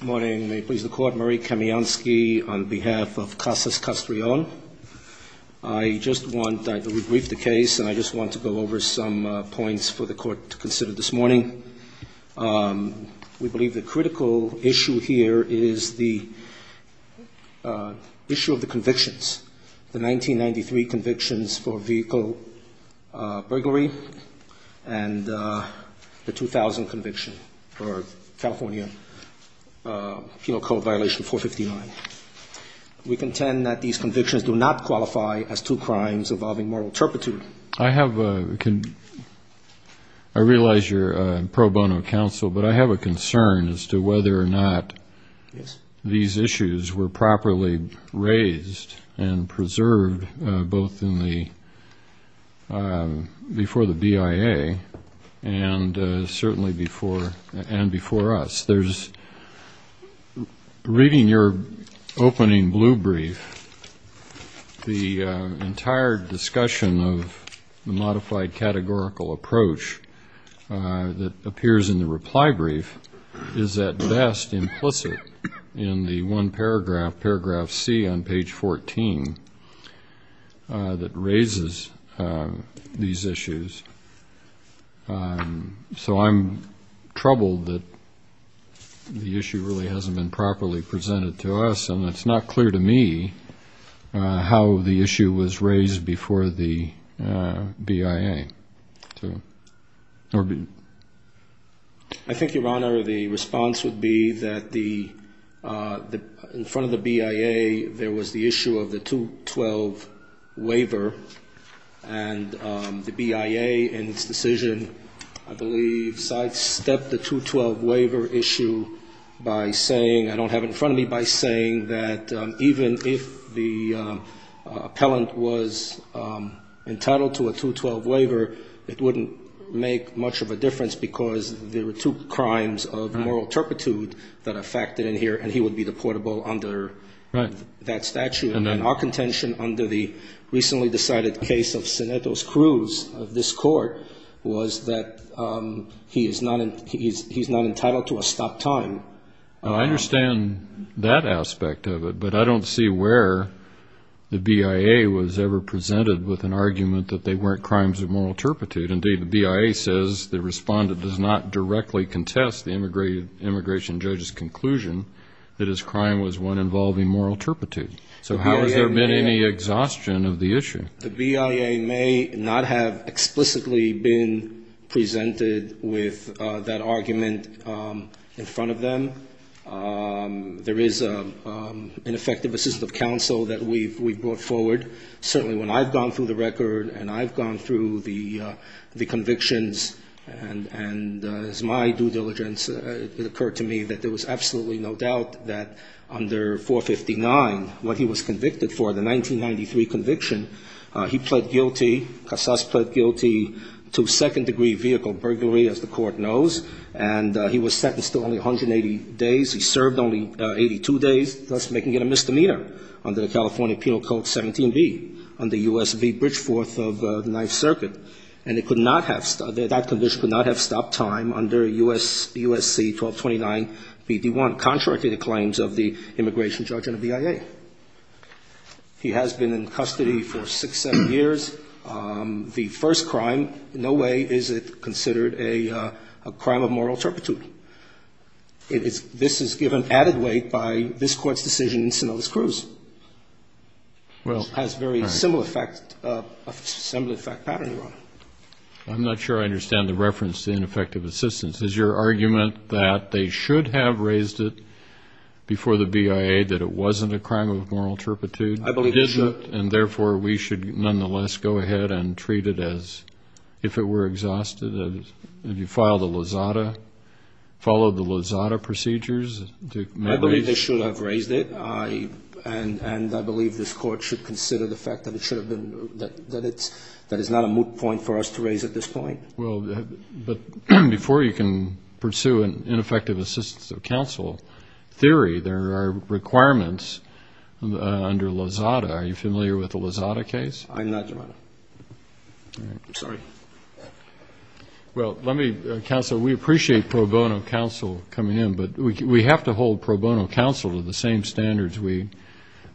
Good morning. May it please the Court, Murray Kamiansky on behalf of Casas-Castrillon. I just want to rebrief the case and I just want to go over some points for the Court to consider this morning. We believe the critical issue here is the issue of the convictions. The 1993 convictions for vehicle burglary and the 2000 conviction for California penal code violation 459. We contend that these convictions do not qualify as two crimes involving moral turpitude. I realize you're pro bono counsel, but I have a concern as to whether or not these issues were properly raised and preserved both before the BIA and certainly before us. There's, reading your opening blue brief, the entire discussion of the modified categorical approach that appears in the reply brief is at best implicit in the one paragraph, paragraph C on page 14, that raises these issues. So I'm troubled that the issue really hasn't been properly presented to us and it's not clear to me how the issue was raised before the BIA. I think, Your Honor, the response would be that in front of the BIA there was the issue of the 212 waiver and the BIA in its decision, I believe, sidestepped the 212 waiver issue by saying, I don't have it in front of me, by saying that even if the appellant was entitled to a 212 waiver, it wouldn't make much of a difference because there were two crimes of moral turpitude that are factored in here and he would be deportable under that statute. And then our contention under the recently decided case of Cenetos Cruz of this court was that he is not entitled to a stop time. I understand that aspect of it, but I don't see where the BIA was ever presented with an argument that they weren't crimes of moral turpitude. Indeed, the BIA says the respondent does not directly contest the immigration judge's conclusion that his crime was one involving moral turpitude. So how has there been any exhaustion of the issue? The BIA may not have explicitly been presented with that argument in front of them. There is an effective assistant of counsel that we've brought forward. Certainly when I've gone through the record and I've gone through the convictions and as my due diligence it occurred to me that there was absolutely no doubt that under 459 what he was convicted for, the 1993 conviction, he pled guilty, Casas pled guilty to second-degree vehicle burglary as the court knows and he was sentenced to only 180 days. He served only 82 days, thus making it a misdemeanor under the California Penal Code 17B under U.S.B. Bridgeforth of the Ninth Circuit. And that condition could not have stopped time under U.S.C. 1229BD1, contrary to the claims of the immigration judge and the BIA. He has been in custody for six, seven years. The first crime, in no way is it considered a crime of moral turpitude. This is given added weight by this court's decision in Sinaloa's Cruz. Well, I'm not sure I understand the reference to ineffective assistance. Is your argument that they should have raised it before the BIA that it wasn't a crime of moral turpitude? I believe they should. And therefore we should nonetheless go ahead and treat it as if it were exhausted? Have you filed a Lozada? Followed the Lozada procedures? I believe they should have raised it. And I believe this court should consider the fact that it should have been, that it's, that it's not a moot point for us to raise at this point. Well, but before you can pursue an ineffective assistance of counsel theory, there are requirements under Lozada. Are you familiar with the Lozada case? I'm not, Your Honor. Sorry. Well, let me counsel. We appreciate pro bono counsel coming in, but we have to hold pro bono counsel to the same standards we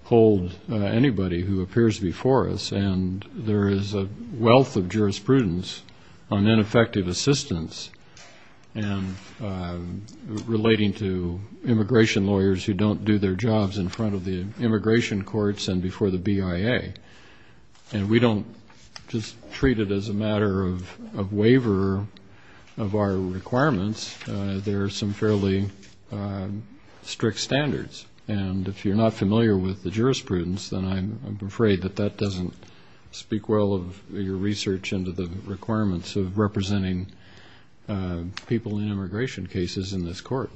hold anybody who appears before us. And there is a wealth of jurisprudence on ineffective assistance and relating to immigration lawyers who don't do their jobs in front of the immigration courts and before the BIA. And we don't just treat it as a matter of waiver of our requirements. There are some fairly strict standards. And if you're not familiar with the jurisprudence, then I'm afraid that that doesn't speak well of your research into the requirements of representing people in immigration cases in this court.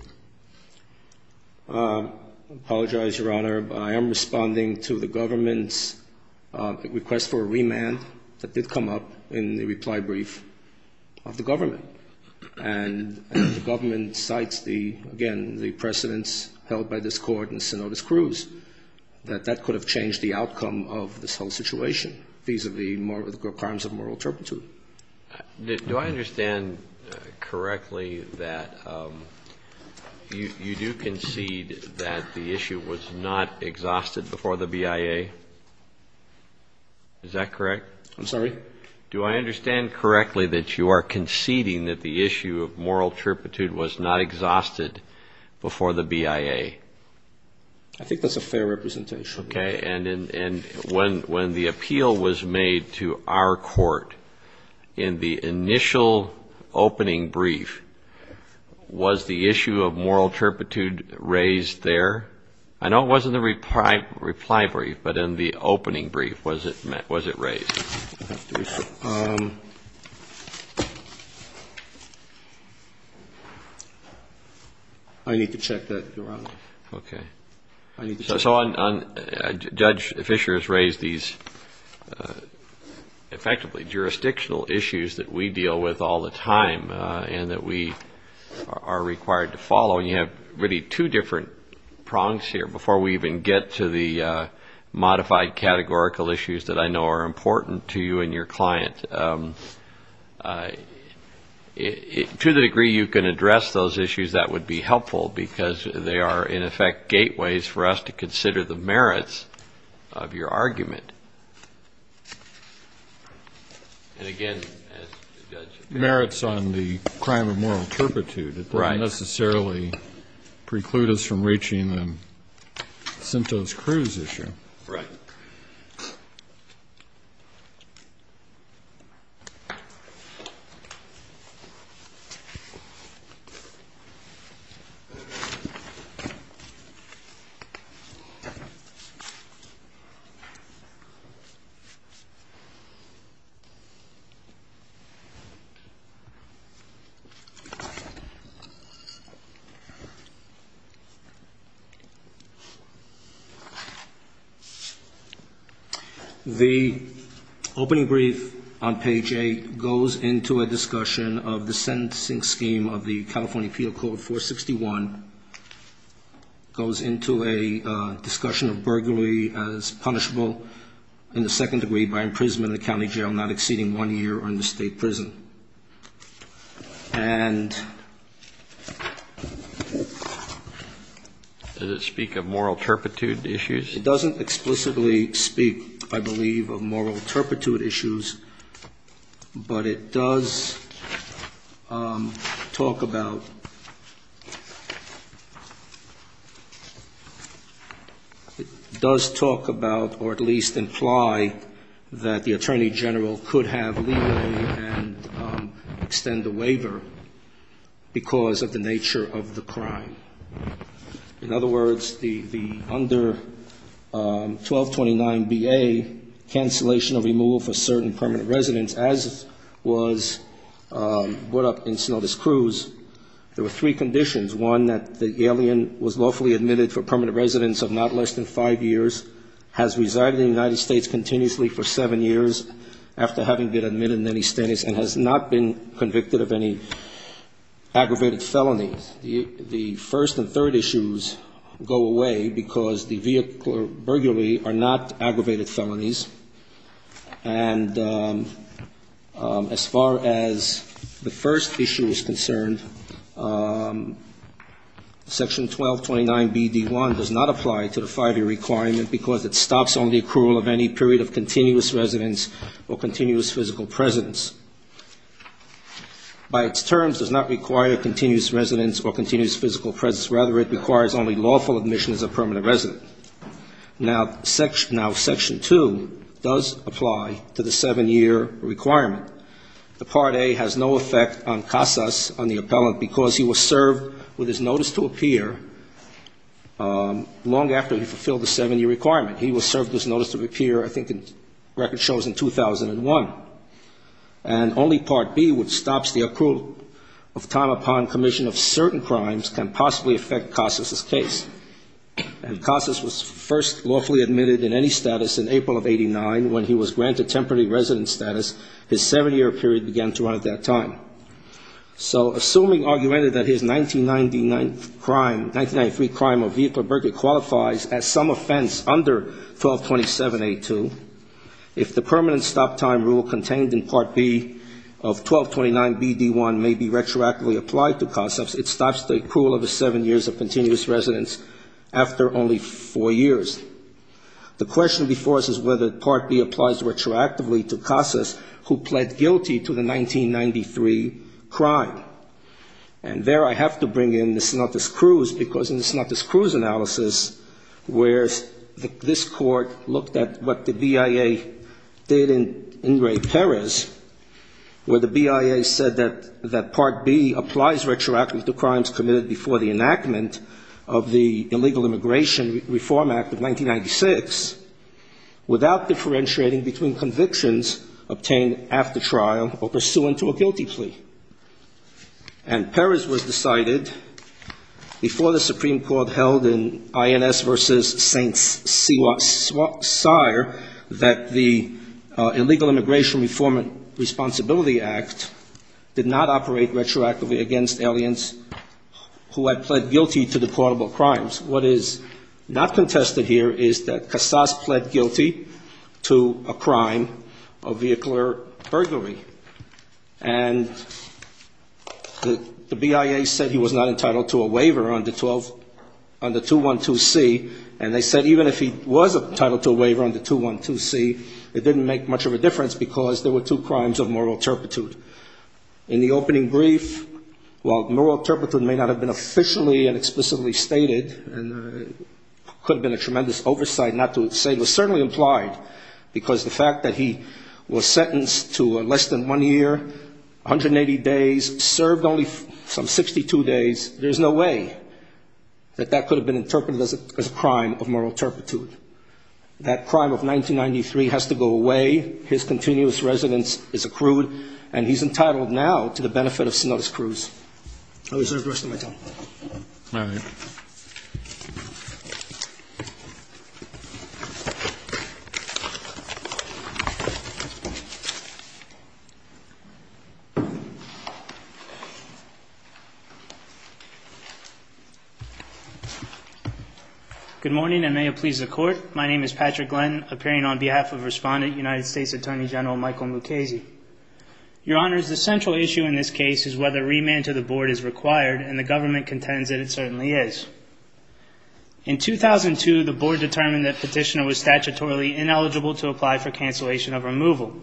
I apologize, Your Honor, but I am responding to the government's request for a remand that did come up in the reply brief of the government. And the government cites the, again, the precedents held by this court and Sinodas-Cruz that that could have changed the outcome of this whole situation vis-a-vis more of the crimes of moral turpitude. Do I understand correctly that you do concede that the issue was not exhausted before the BIA? Is that correct? I'm sorry? Do I understand correctly that you are conceding that the issue of moral turpitude was not exhausted before the BIA? I think that's a fair representation. And when the appeal was made to our court, in the initial opening brief, was the issue of moral turpitude raised there? I know it was in the reply brief, but in the opening brief, was it raised? Okay. So Judge Fischer has raised these effectively jurisdictional issues that we deal with all the time and that we are required to follow. And you have really two different prongs here before we even get to the modified categorical issues that I know are important to you and your client. To the degree you can address those issues, that would be helpful because they are, in effect, gateways for us to consider the merits of your argument. And again, as the judge... Merits on the crime of moral turpitude. Right. It doesn't necessarily preclude us from reaching the Sintos-Cruz issue. Right. Okay. The opening brief on page 8 goes into a discussion of the sentencing scheme of the California Appeal Code 461. It goes into a discussion of burglary as punishable in the second degree by imprisonment in the county jail not exceeding one year or in the state prison. And... Does it speak of moral turpitude issues? It doesn't explicitly speak, I believe, of moral turpitude issues, but it does talk about... It does talk about, or at least imply, that the Attorney General could have leeway and extend a waiver because of the nature of the crime. In other words, the under 1229BA, cancellation or removal for certain permanent residents, as was brought up in Sintos-Cruz, there were three conditions. One, that the alien was lawfully admitted for permanent residence of not less than five years, has resided in the United States continuously for seven years after having been admitted in any status and has not been convicted of any aggravated felonies. The first and third issues go away because the vehicle or burglary are not aggravated felonies. And as far as the first issue is concerned, Section 1229BD1 does not apply to the five-year requirement because it stops only accrual of any period of continuous residence or continuous physical presence. By its terms, it does not require continuous residence or continuous physical presence. Rather, it requires only lawful admission as a permanent resident. Now, Section 2 does apply to the seven-year requirement. The Part A has no effect on Casas, on the appellant, because he was served with his notice to appear long after he fulfilled the seven-year requirement. He was served his notice to appear, I think, record shows in 2001. And only Part B, which stops the accrual of time upon commission of certain crimes, can possibly affect Casas' case. And Casas was first lawfully admitted in any status in April of 89 when he was granted temporary residence status. His seven-year period began to run at that time. So, assuming argument that his 1999 crime, 1993 crime of vehicle burglary qualifies as some offense under 1227A2, if the permanent stop-time rule contained in Part B of 1229BD1 may be retroactively applied to Casas, it stops the accrual of his seven years of continuous residence after only four years. The question before us is whether Part B applies retroactively to Casas, who pled guilty to the 1993 crime. And there I have to bring in the Sinatra's Cruz, because in the Sinatra's Cruz analysis, where this court looked at what the BIA did in Ingray-Perez, where the BIA said that Part B applies retroactively to crimes committed before the enactment of the Illegal Immigration Reform Act of 1996 without differentiating between convictions obtained after trial or pursuant to a guilty plea. And Perez was decided before the Supreme Court held in INS v. St. Cyr that the Illegal Immigration Reform Responsibility Act did not operate retroactively against aliens who had pled guilty to the portable crimes. What is not contested here is that Casas pled guilty to a crime of vehicular burglary. And the BIA said he was not entitled to a waiver under 212C. And they said even if he was entitled to a waiver under 212C, it didn't make much of a difference because there were two crimes of moral turpitude. In the opening brief, while moral turpitude may not have been officially and explicitly stated, it could have been a tremendous oversight not to say, it was certainly implied, because the fact that he was sentenced to less than one year, 180 days, served only some 62 days, there's no way that that could have been interpreted as a crime of moral turpitude. That crime of 1993 has to go away. His continuous residence is accrued, and he's entitled now to the benefit of Sinotis Cruz. I reserve the rest of my time. All right. Good morning, and may it please the Court. My name is Patrick Glenn, appearing on behalf of Respondent, United States Attorney General Michael Mukasey. Your Honors, the central issue in this case is whether remand to the Board is required, and the government contends that it certainly is. In 2002, the Board determined that Petitioner In 2012, the Board determined that Petitioner was statutorily ineligible to apply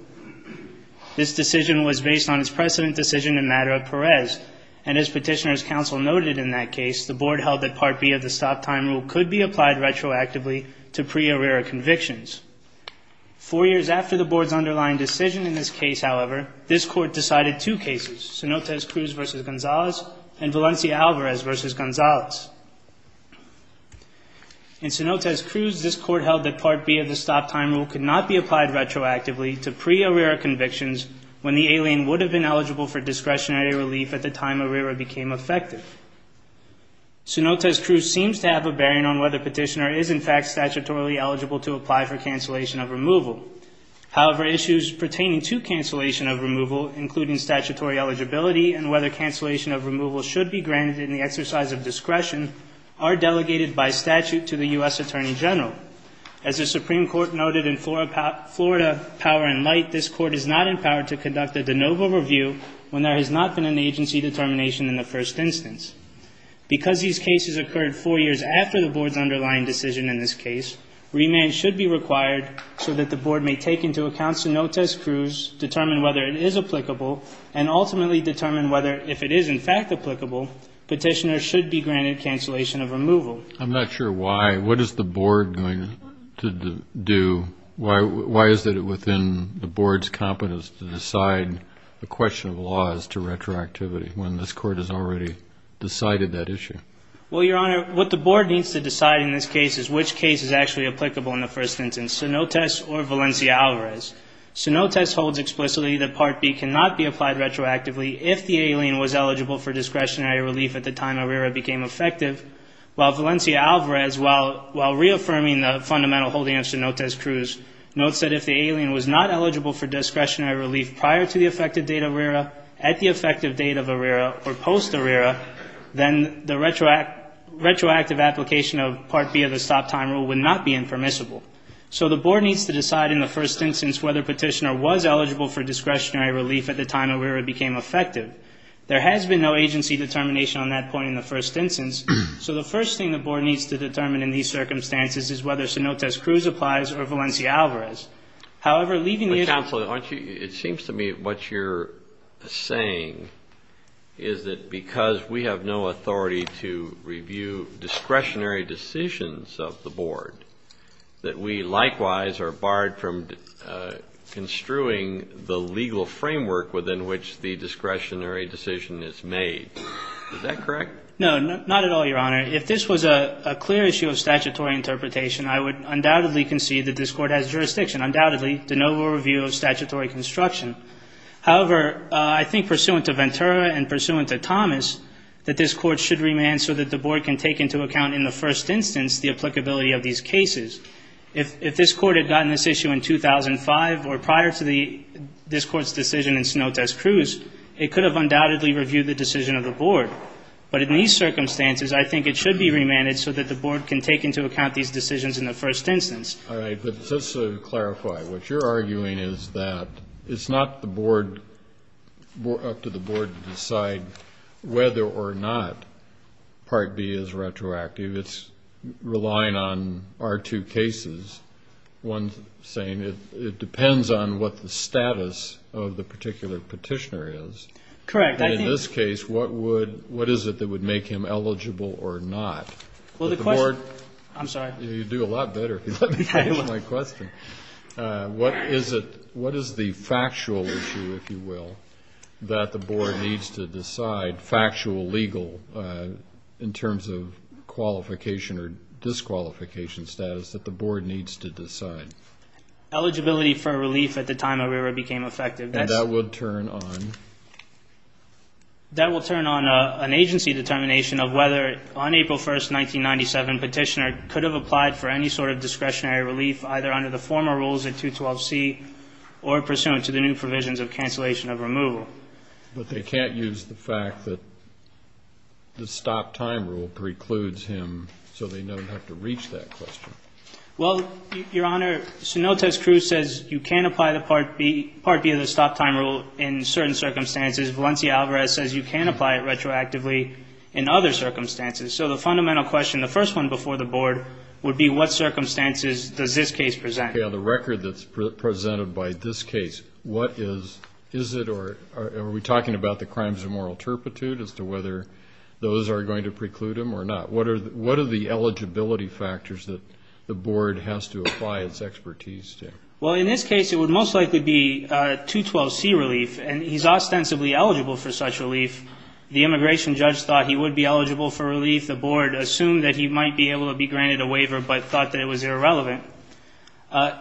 This decision was based on its precedent decision in Madera-Perez, and as Petitioner's counsel noted in that case, the Board held that Part B of the stop-time rule could be applied retroactively to pre-arrear convictions. Four years after the Board's underlying decision in this case, however, this Court decided two cases, Sinotis Cruz v. Gonzalez and Valencia Alvarez v. Gonzalez. In Sinotis Cruz, this Court held that Part B of the stop-time rule could not be applied retroactively to pre-arrear convictions when the alien would have been eligible for discretionary relief at the time arrear became effective. Sinotis Cruz seems to have a bearing on whether Petitioner is in fact statutorily eligible to apply for cancellation of removal. However, issues pertaining to cancellation of removal, including statutory eligibility and whether cancellation of removal should be granted in the exercise of discretion, are delegated by statute to the U.S. Attorney General. As the Supreme Court noted in Florida Power and Light, this Court is not empowered to conduct a de novo review when there has not been an agency determination in the first instance. Because these cases occurred four years after the Board's underlying decision in this case, remand should be required so that the Board may take into account Sinotis Cruz, determine whether it is applicable, and ultimately determine whether, if it is in fact applicable, Petitioner should be granted cancellation of removal. I'm not sure why. What is the Board going to do? Why is it within the Board's competence to decide the question of laws to retroactivity when this Court has already decided that issue? Well, Your Honor, what the Board needs to decide in this case is which case is actually applicable in the first instance, Sinotis or Valencia Alvarez. Sinotis holds explicitly that Part B cannot be applied retroactively if the alien was eligible for discretionary relief at the time arrear became effective, while Valencia Alvarez, while reaffirming the fundamental holding of Sinotis Cruz, notes that if the alien was not eligible for discretionary relief prior to the effective date of arrear, at the effective date of arrear, or post-arrear, then the retroactive application of Part B of the stop-time rule would not be impermissible. So the Board needs to decide in the first instance whether Petitioner was eligible for discretionary relief at the time arrear became effective. There has been no agency determination on that point in the first instance. So the first thing the Board needs to determine in these circumstances is whether Sinotis Cruz applies or Valencia Alvarez. However, leaving the issue... But, Counselor, it seems to me what you're saying is that because we have no authority to review discretionary decisions of the Board, that we likewise are barred from construing the legal framework within which the discretionary decision is made. Is that correct? No, not at all, Your Honor. If this was a clear issue of statutory interpretation, I would undoubtedly concede that this Court has jurisdiction, undoubtedly, to no review of statutory construction. However, I think pursuant to Ventura and pursuant to Thomas that this Court should remand so that the Board can take into account in the first instance the applicability of these cases. If this Court had gotten this issue in 2005 or prior to this Court's decision in Sinotis Cruz, it could have undoubtedly reviewed the decision of the Board. But in these circumstances, I think it should be remanded so that the Board can take into account these decisions in the first instance. All right, but just to clarify, what you're arguing is that it's not up to the Board to decide whether or not Part B is retroactive. It's relying on our two cases, one saying it depends on what the status of the particular petitioner is. Correct. And in this case, what is it that would make him eligible or not? Well, the question, I'm sorry. You do a lot better. Let me finish my question. What is the factual issue, if you will, that the Board needs to decide, factual, legal, in terms of qualification or disqualification status that the Board needs to decide? Eligibility for a relief at the time a waiver became effective. And that would turn on? That would turn on an agency determination of whether, on April 1, 1997, petitioner could have applied for any sort of discretionary relief either under the former rules at 212C or pursuant to the new provisions of cancellation of removal. But they can't use the fact that the stop-time rule precludes him so they don't have to reach that question. Well, Your Honor, Sinotas Cruz says you can apply Part B of the stop-time rule in certain circumstances. Valencia Alvarez says you can apply it retroactively in other circumstances. So the fundamental question, the first one before the Board, would be what circumstances does this case present? Okay. On the record that's presented by this case, what is, is it, or are we talking about the crimes of moral turpitude as to whether those are going to preclude him or not? What are the eligibility factors that the Board has to apply its expertise to? Well, in this case, it would most likely be 212C relief, and he's ostensibly eligible for such relief. The immigration judge thought he would be eligible for relief. The Board assumed that he might be able to be granted a waiver but thought that it was irrelevant.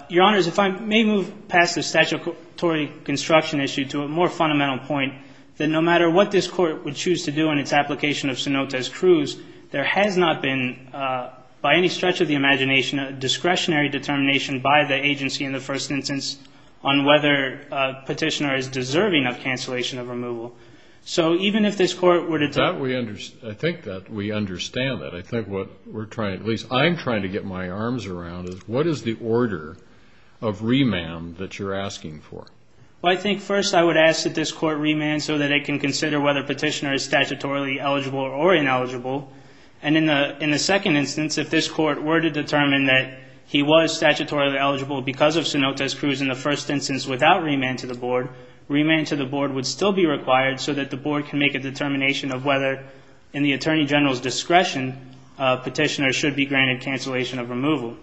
Your Honors, if I may move past the statutory construction issue to a more fundamental point, that no matter what this Court would choose to do in its application of Sinotas Cruz, there has not been, by any stretch of the imagination, a discretionary determination by the agency in the first instance on whether a petitioner is deserving of cancellation of removal. So even if this Court were to take that. I think that we understand that. I think what we're trying, at least I'm trying to get my arms around, is what is the order of remand that you're asking for? Well, I think first I would ask that this Court remand so that it can consider whether a petitioner is statutorily eligible or ineligible. And in the second instance, if this Court were to determine that he was statutorily eligible because of Sinotas Cruz in the first instance without remand to the Board, remand to the Board would still be required so that the Board can make a determination of whether, in the Attorney General's discretion, a petitioner should be granted cancellation of removal.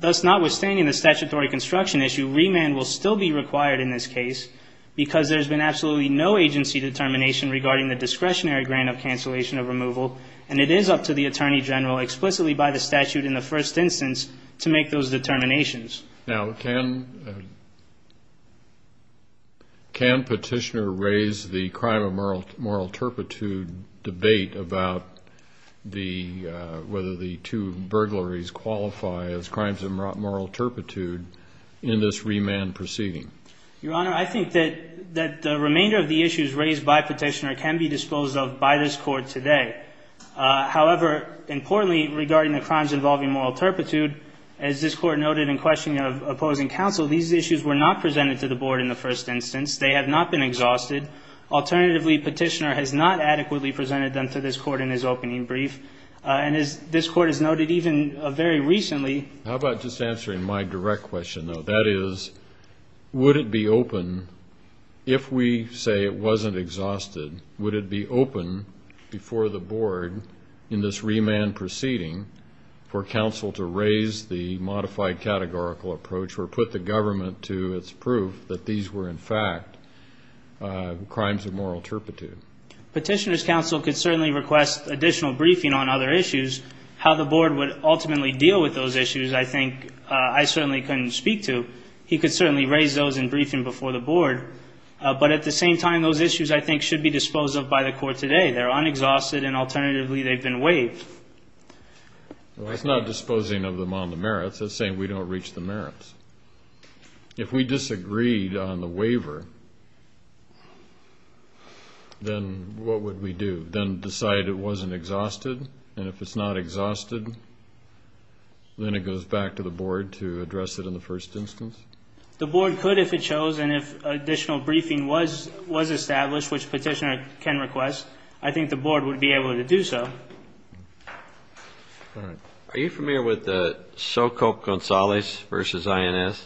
Thus, notwithstanding the statutory construction issue, remand will still be required in this case because there's been absolutely no agency determination regarding the discretionary grant of cancellation of removal, and it is up to the Attorney General, explicitly by the statute in the first instance, to make those determinations. Now, can petitioner raise the crime of moral turpitude debate about whether the two burglaries qualify as crimes of moral turpitude in this remand proceeding? Your Honor, I think that the remainder of the issues raised by petitioner can be disposed of by this Court today. However, importantly, regarding the crimes involving moral turpitude, as this Court noted in questioning of opposing counsel, these issues were not presented to the Board in the first instance. They have not been exhausted. Alternatively, petitioner has not adequately presented them to this Court in his opening brief. And as this Court has noted even very recently – How about just answering my direct question, though? That is, would it be open, if we say it wasn't exhausted, would it be open before the Board in this remand proceeding for counsel to raise the modified categorical approach or put the government to its proof that these were, in fact, crimes of moral turpitude? Petitioner's counsel could certainly request additional briefing on other issues. How the Board would ultimately deal with those issues, I think, I certainly couldn't speak to. He could certainly raise those in briefing before the Board. But at the same time, those issues, I think, should be disposed of by the Court today. They're unexhausted, and alternatively, they've been waived. Well, that's not disposing of them on the merits. That's saying we don't reach the merits. If we disagreed on the waiver, then what would we do? Then decide it wasn't exhausted? And if it's not exhausted, then it goes back to the Board to address it in the first instance? The Board could if it chose, and if additional briefing was established, which Petitioner can request, I think the Board would be able to do so. Are you familiar with the Socop-Gonzalez v. INS?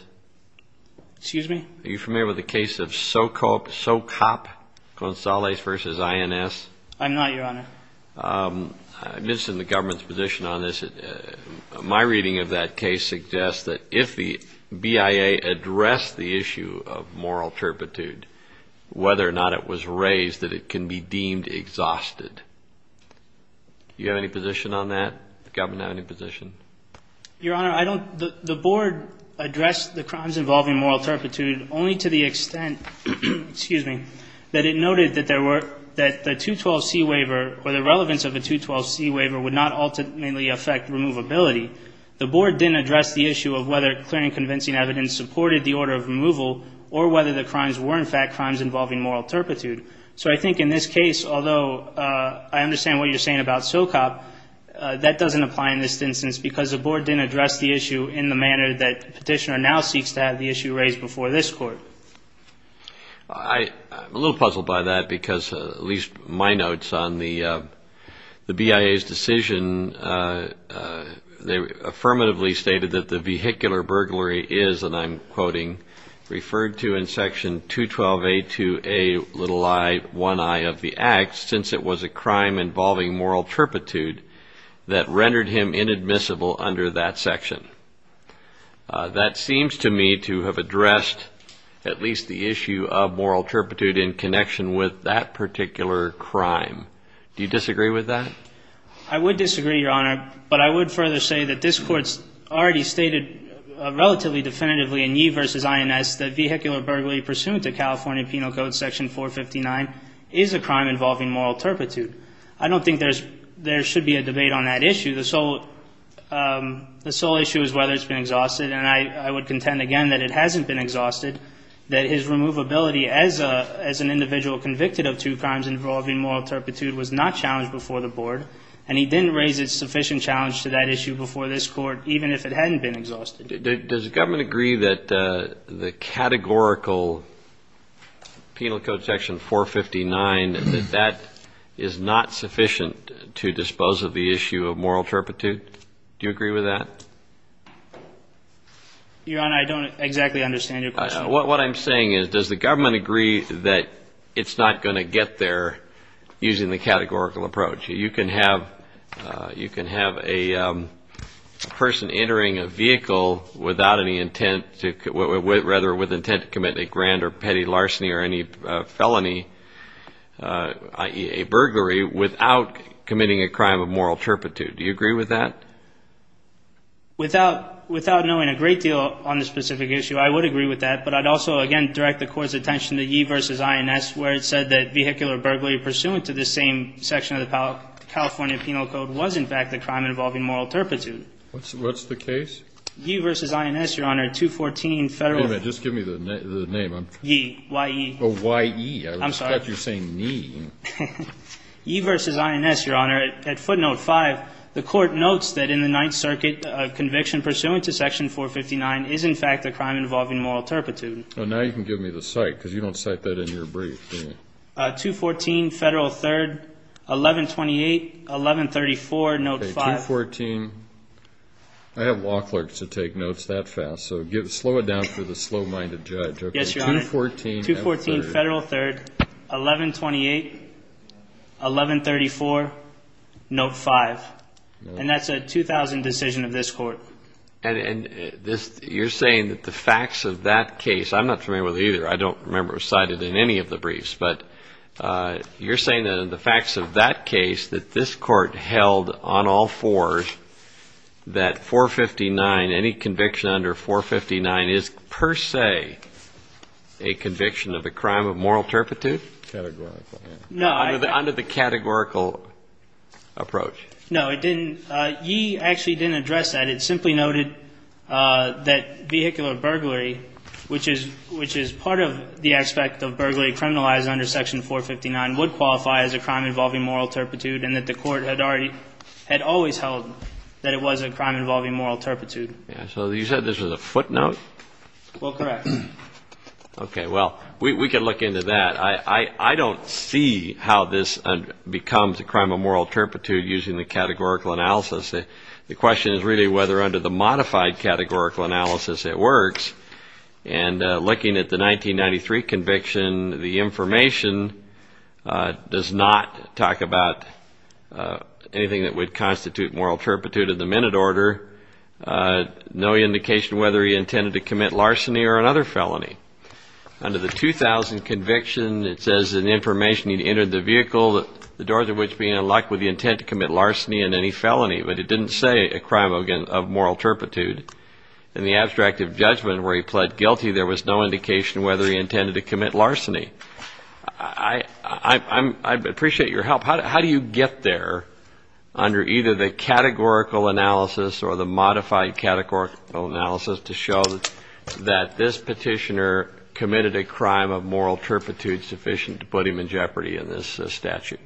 Excuse me? Are you familiar with the case of Socop-Gonzalez v. INS? I'm not, Your Honor. I'm interested in the government's position on this. My reading of that case suggests that if the BIA addressed the issue of moral turpitude, whether or not it was raised, that it can be deemed exhausted. Do you have any position on that? Does the government have any position? Your Honor, I don't. The Board addressed the crimes involving moral turpitude only to the extent, excuse me, that it noted that there were, that the 212C waiver or the relevance of the 212C waiver would not ultimately affect removability. The Board didn't address the issue of whether clear and convincing evidence supported the order of removal or whether the crimes were, in fact, crimes involving moral turpitude. So I think in this case, although I understand what you're saying about Socop, that doesn't apply in this instance because the Board didn't address the issue in the manner that Petitioner now seeks to have the issue raised before this Court. I'm a little puzzled by that because at least my notes on the BIA's decision, they affirmatively stated that the vehicular burglary is, and I'm quoting, referred to in Section 212A2A1I of the Act since it was a crime involving moral turpitude that rendered him inadmissible under that section. That seems to me to have addressed at least the issue of moral turpitude in connection with that particular crime. Do you disagree with that? I would disagree, Your Honor. But I would further say that this Court's already stated relatively definitively in Yee v. INS that vehicular burglary pursuant to California Penal Code Section 459 is a crime involving moral turpitude. I don't think there should be a debate on that issue. The sole issue is whether it's been exhausted, and I would contend again that it hasn't been exhausted, that his removability as an individual convicted of two crimes involving moral turpitude was not challenged before the Board, and he didn't raise a sufficient challenge to that issue before this Court, even if it hadn't been exhausted. Does the government agree that the categorical Penal Code Section 459, that that is not sufficient to dispose of the issue of moral turpitude? Do you agree with that? Your Honor, I don't exactly understand your question. What I'm saying is, does the government agree that it's not going to get there using the categorical approach? You can have a person entering a vehicle without any intent, rather with intent to commit a grand or petty larceny or any felony, i.e., a burglary without committing a crime of moral turpitude. Do you agree with that? Without knowing a great deal on the specific issue, I would agree with that, but I'd also again direct the Court's attention to Yee v. INS where it said that vehicular burglary pursuant to this same section of the California Penal Code was, in fact, a crime involving moral turpitude. What's the case? Yee v. INS, Your Honor, 214 Federal. Wait a minute. Just give me the name. Yee, Y-E. Oh, Y-E. I'm sorry. I thought you were saying Nee. Yee v. INS, Your Honor, at footnote 5, the Court notes that in the Ninth Circuit, a conviction pursuant to Section 459 is, in fact, a crime involving moral turpitude. Now you can give me the cite because you don't cite that in your brief. 214 Federal 3rd, 1128, 1134, note 5. 214. I have law clerks that take notes that fast, so slow it down for the slow-minded judge. Yes, Your Honor. 214 Federal 3rd, 1128, 1134, note 5. And that's a 2000 decision of this Court. And you're saying that the facts of that case, I'm not familiar with either. I don't remember it was cited in any of the briefs. But you're saying that in the facts of that case, that this Court held on all fours that 459, any conviction under 459 is per se a conviction of a crime of moral turpitude? Categorical, yes. Under the categorical approach. No, it didn't. Yee actually didn't address that. It simply noted that vehicular burglary, which is part of the aspect of burglary criminalized under section 459, would qualify as a crime involving moral turpitude, and that the Court had always held that it was a crime involving moral turpitude. So you said this was a footnote? Well, correct. Okay, well, we can look into that. I don't see how this becomes a crime of moral turpitude using the categorical analysis. The question is really whether under the modified categorical analysis it works. And looking at the 1993 conviction, the information does not talk about anything that would constitute moral turpitude in the minute order. No indication whether he intended to commit larceny or another felony. Under the 2000 conviction, it says in the information he entered the vehicle, the doors of which being unlocked, with the intent to commit larceny and any felony. But it didn't say a crime of moral turpitude. In the abstract of judgment where he pled guilty, there was no indication whether he intended to commit larceny. I appreciate your help. How do you get there under either the categorical analysis or the modified categorical analysis to show that this Petitioner committed a crime of moral turpitude sufficient to put him in jeopardy in this statute?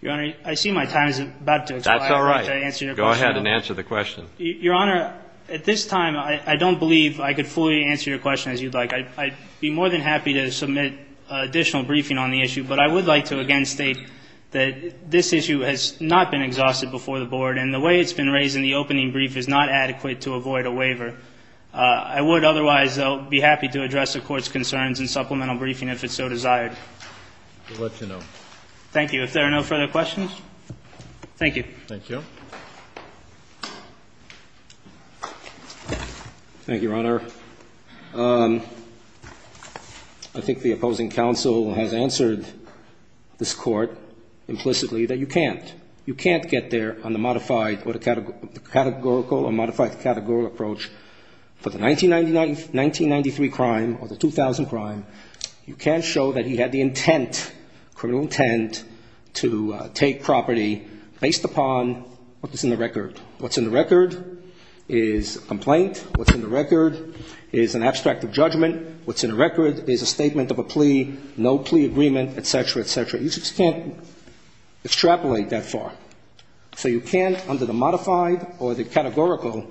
Your Honor, I see my time is about to expire. That's all right. I'd like to answer your question. Go ahead and answer the question. Your Honor, at this time, I don't believe I could fully answer your question as you'd like. I'd be more than happy to submit additional briefing on the issue. But I would like to again state that this issue has not been exhausted before the Board. And the way it's been raised in the opening brief is not adequate to avoid a waiver. I would otherwise, though, be happy to address the Court's concerns in supplemental briefing if it's so desired. We'll let you know. Thank you. If there are no further questions, thank you. Thank you. Thank you, Your Honor. I think the opposing counsel has answered this Court implicitly that you can't. You can't get there on the modified or the categorical or modified categorical approach for the 1993 crime or the 2000 crime. You can't show that he had the intent, criminal intent, to take property based upon what's in the record. What's in the record is a complaint. What's in the record is an abstract of judgment. What's in the record is a statement of a plea, no plea agreement, et cetera, et cetera. You just can't extrapolate that far. So you can't, under the modified or the categorical,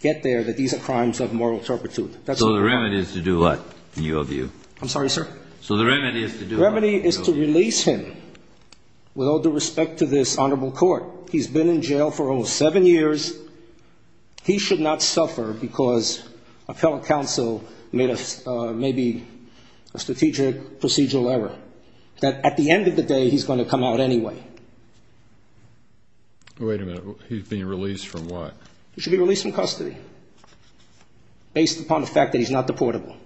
get there that these are crimes of moral turpitude. So the remedy is to do what, in your view? I'm sorry, sir? So the remedy is to do what? The remedy is to release him with all due respect to this honorable Court. He's been in jail for almost seven years. He should not suffer because a fellow counsel made maybe a strategic procedural error. That at the end of the day, he's going to come out anyway. Wait a minute. He's being released from what? He should be released from custody based upon the fact that he's not deportable.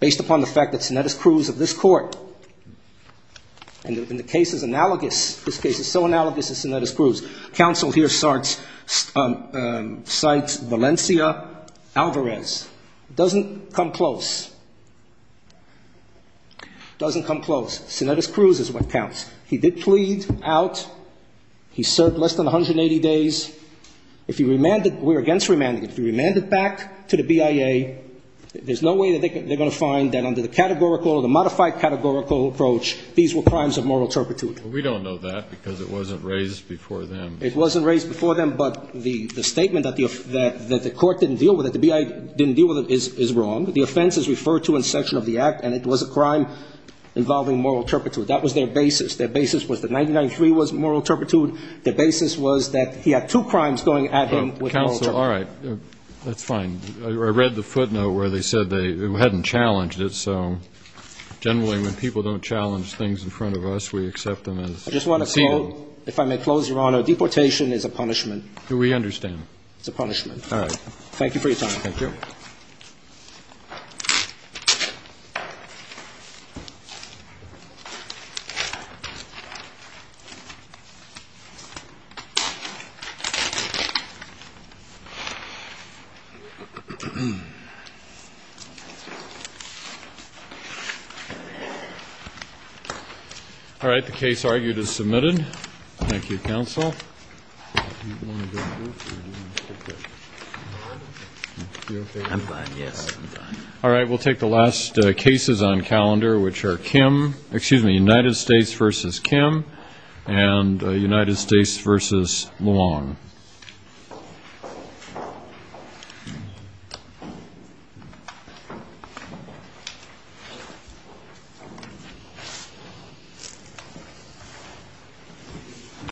Based upon the fact that Sinaitis Cruz of this Court, and the case is analogous, this case is so analogous to Sinaitis Cruz. Counsel here cites Valencia Alvarez. It doesn't come close. It doesn't come close. Sinaitis Cruz is what counts. He did plead out. He served less than 180 days. If he remanded, we're against remanding. If he remanded back to the BIA, there's no way that they're going to find that under the categorical or the modified categorical approach, these were crimes of moral turpitude. We don't know that because it wasn't raised before them. It wasn't raised before them, but the statement that the Court didn't deal with it, the BIA didn't deal with it, is wrong. The offense is referred to in section of the act, and it was a crime involving moral turpitude. That was their basis. Their basis was that 99-3 was moral turpitude. Their basis was that he had two crimes going at him with moral turpitude. Counsel, all right. That's fine. I read the footnote where they said they hadn't challenged it, so generally when people don't challenge things in front of us, we accept them as seen. I just want to quote, if I may close, Your Honor, deportation is a punishment. We understand. It's a punishment. All right. Thank you for your time. Thank you. All right. The case argued is submitted. Thank you, counsel. All right. We'll take the last cases on calendar, which are Kim, excuse me, United States v. Kim and United States v. Long.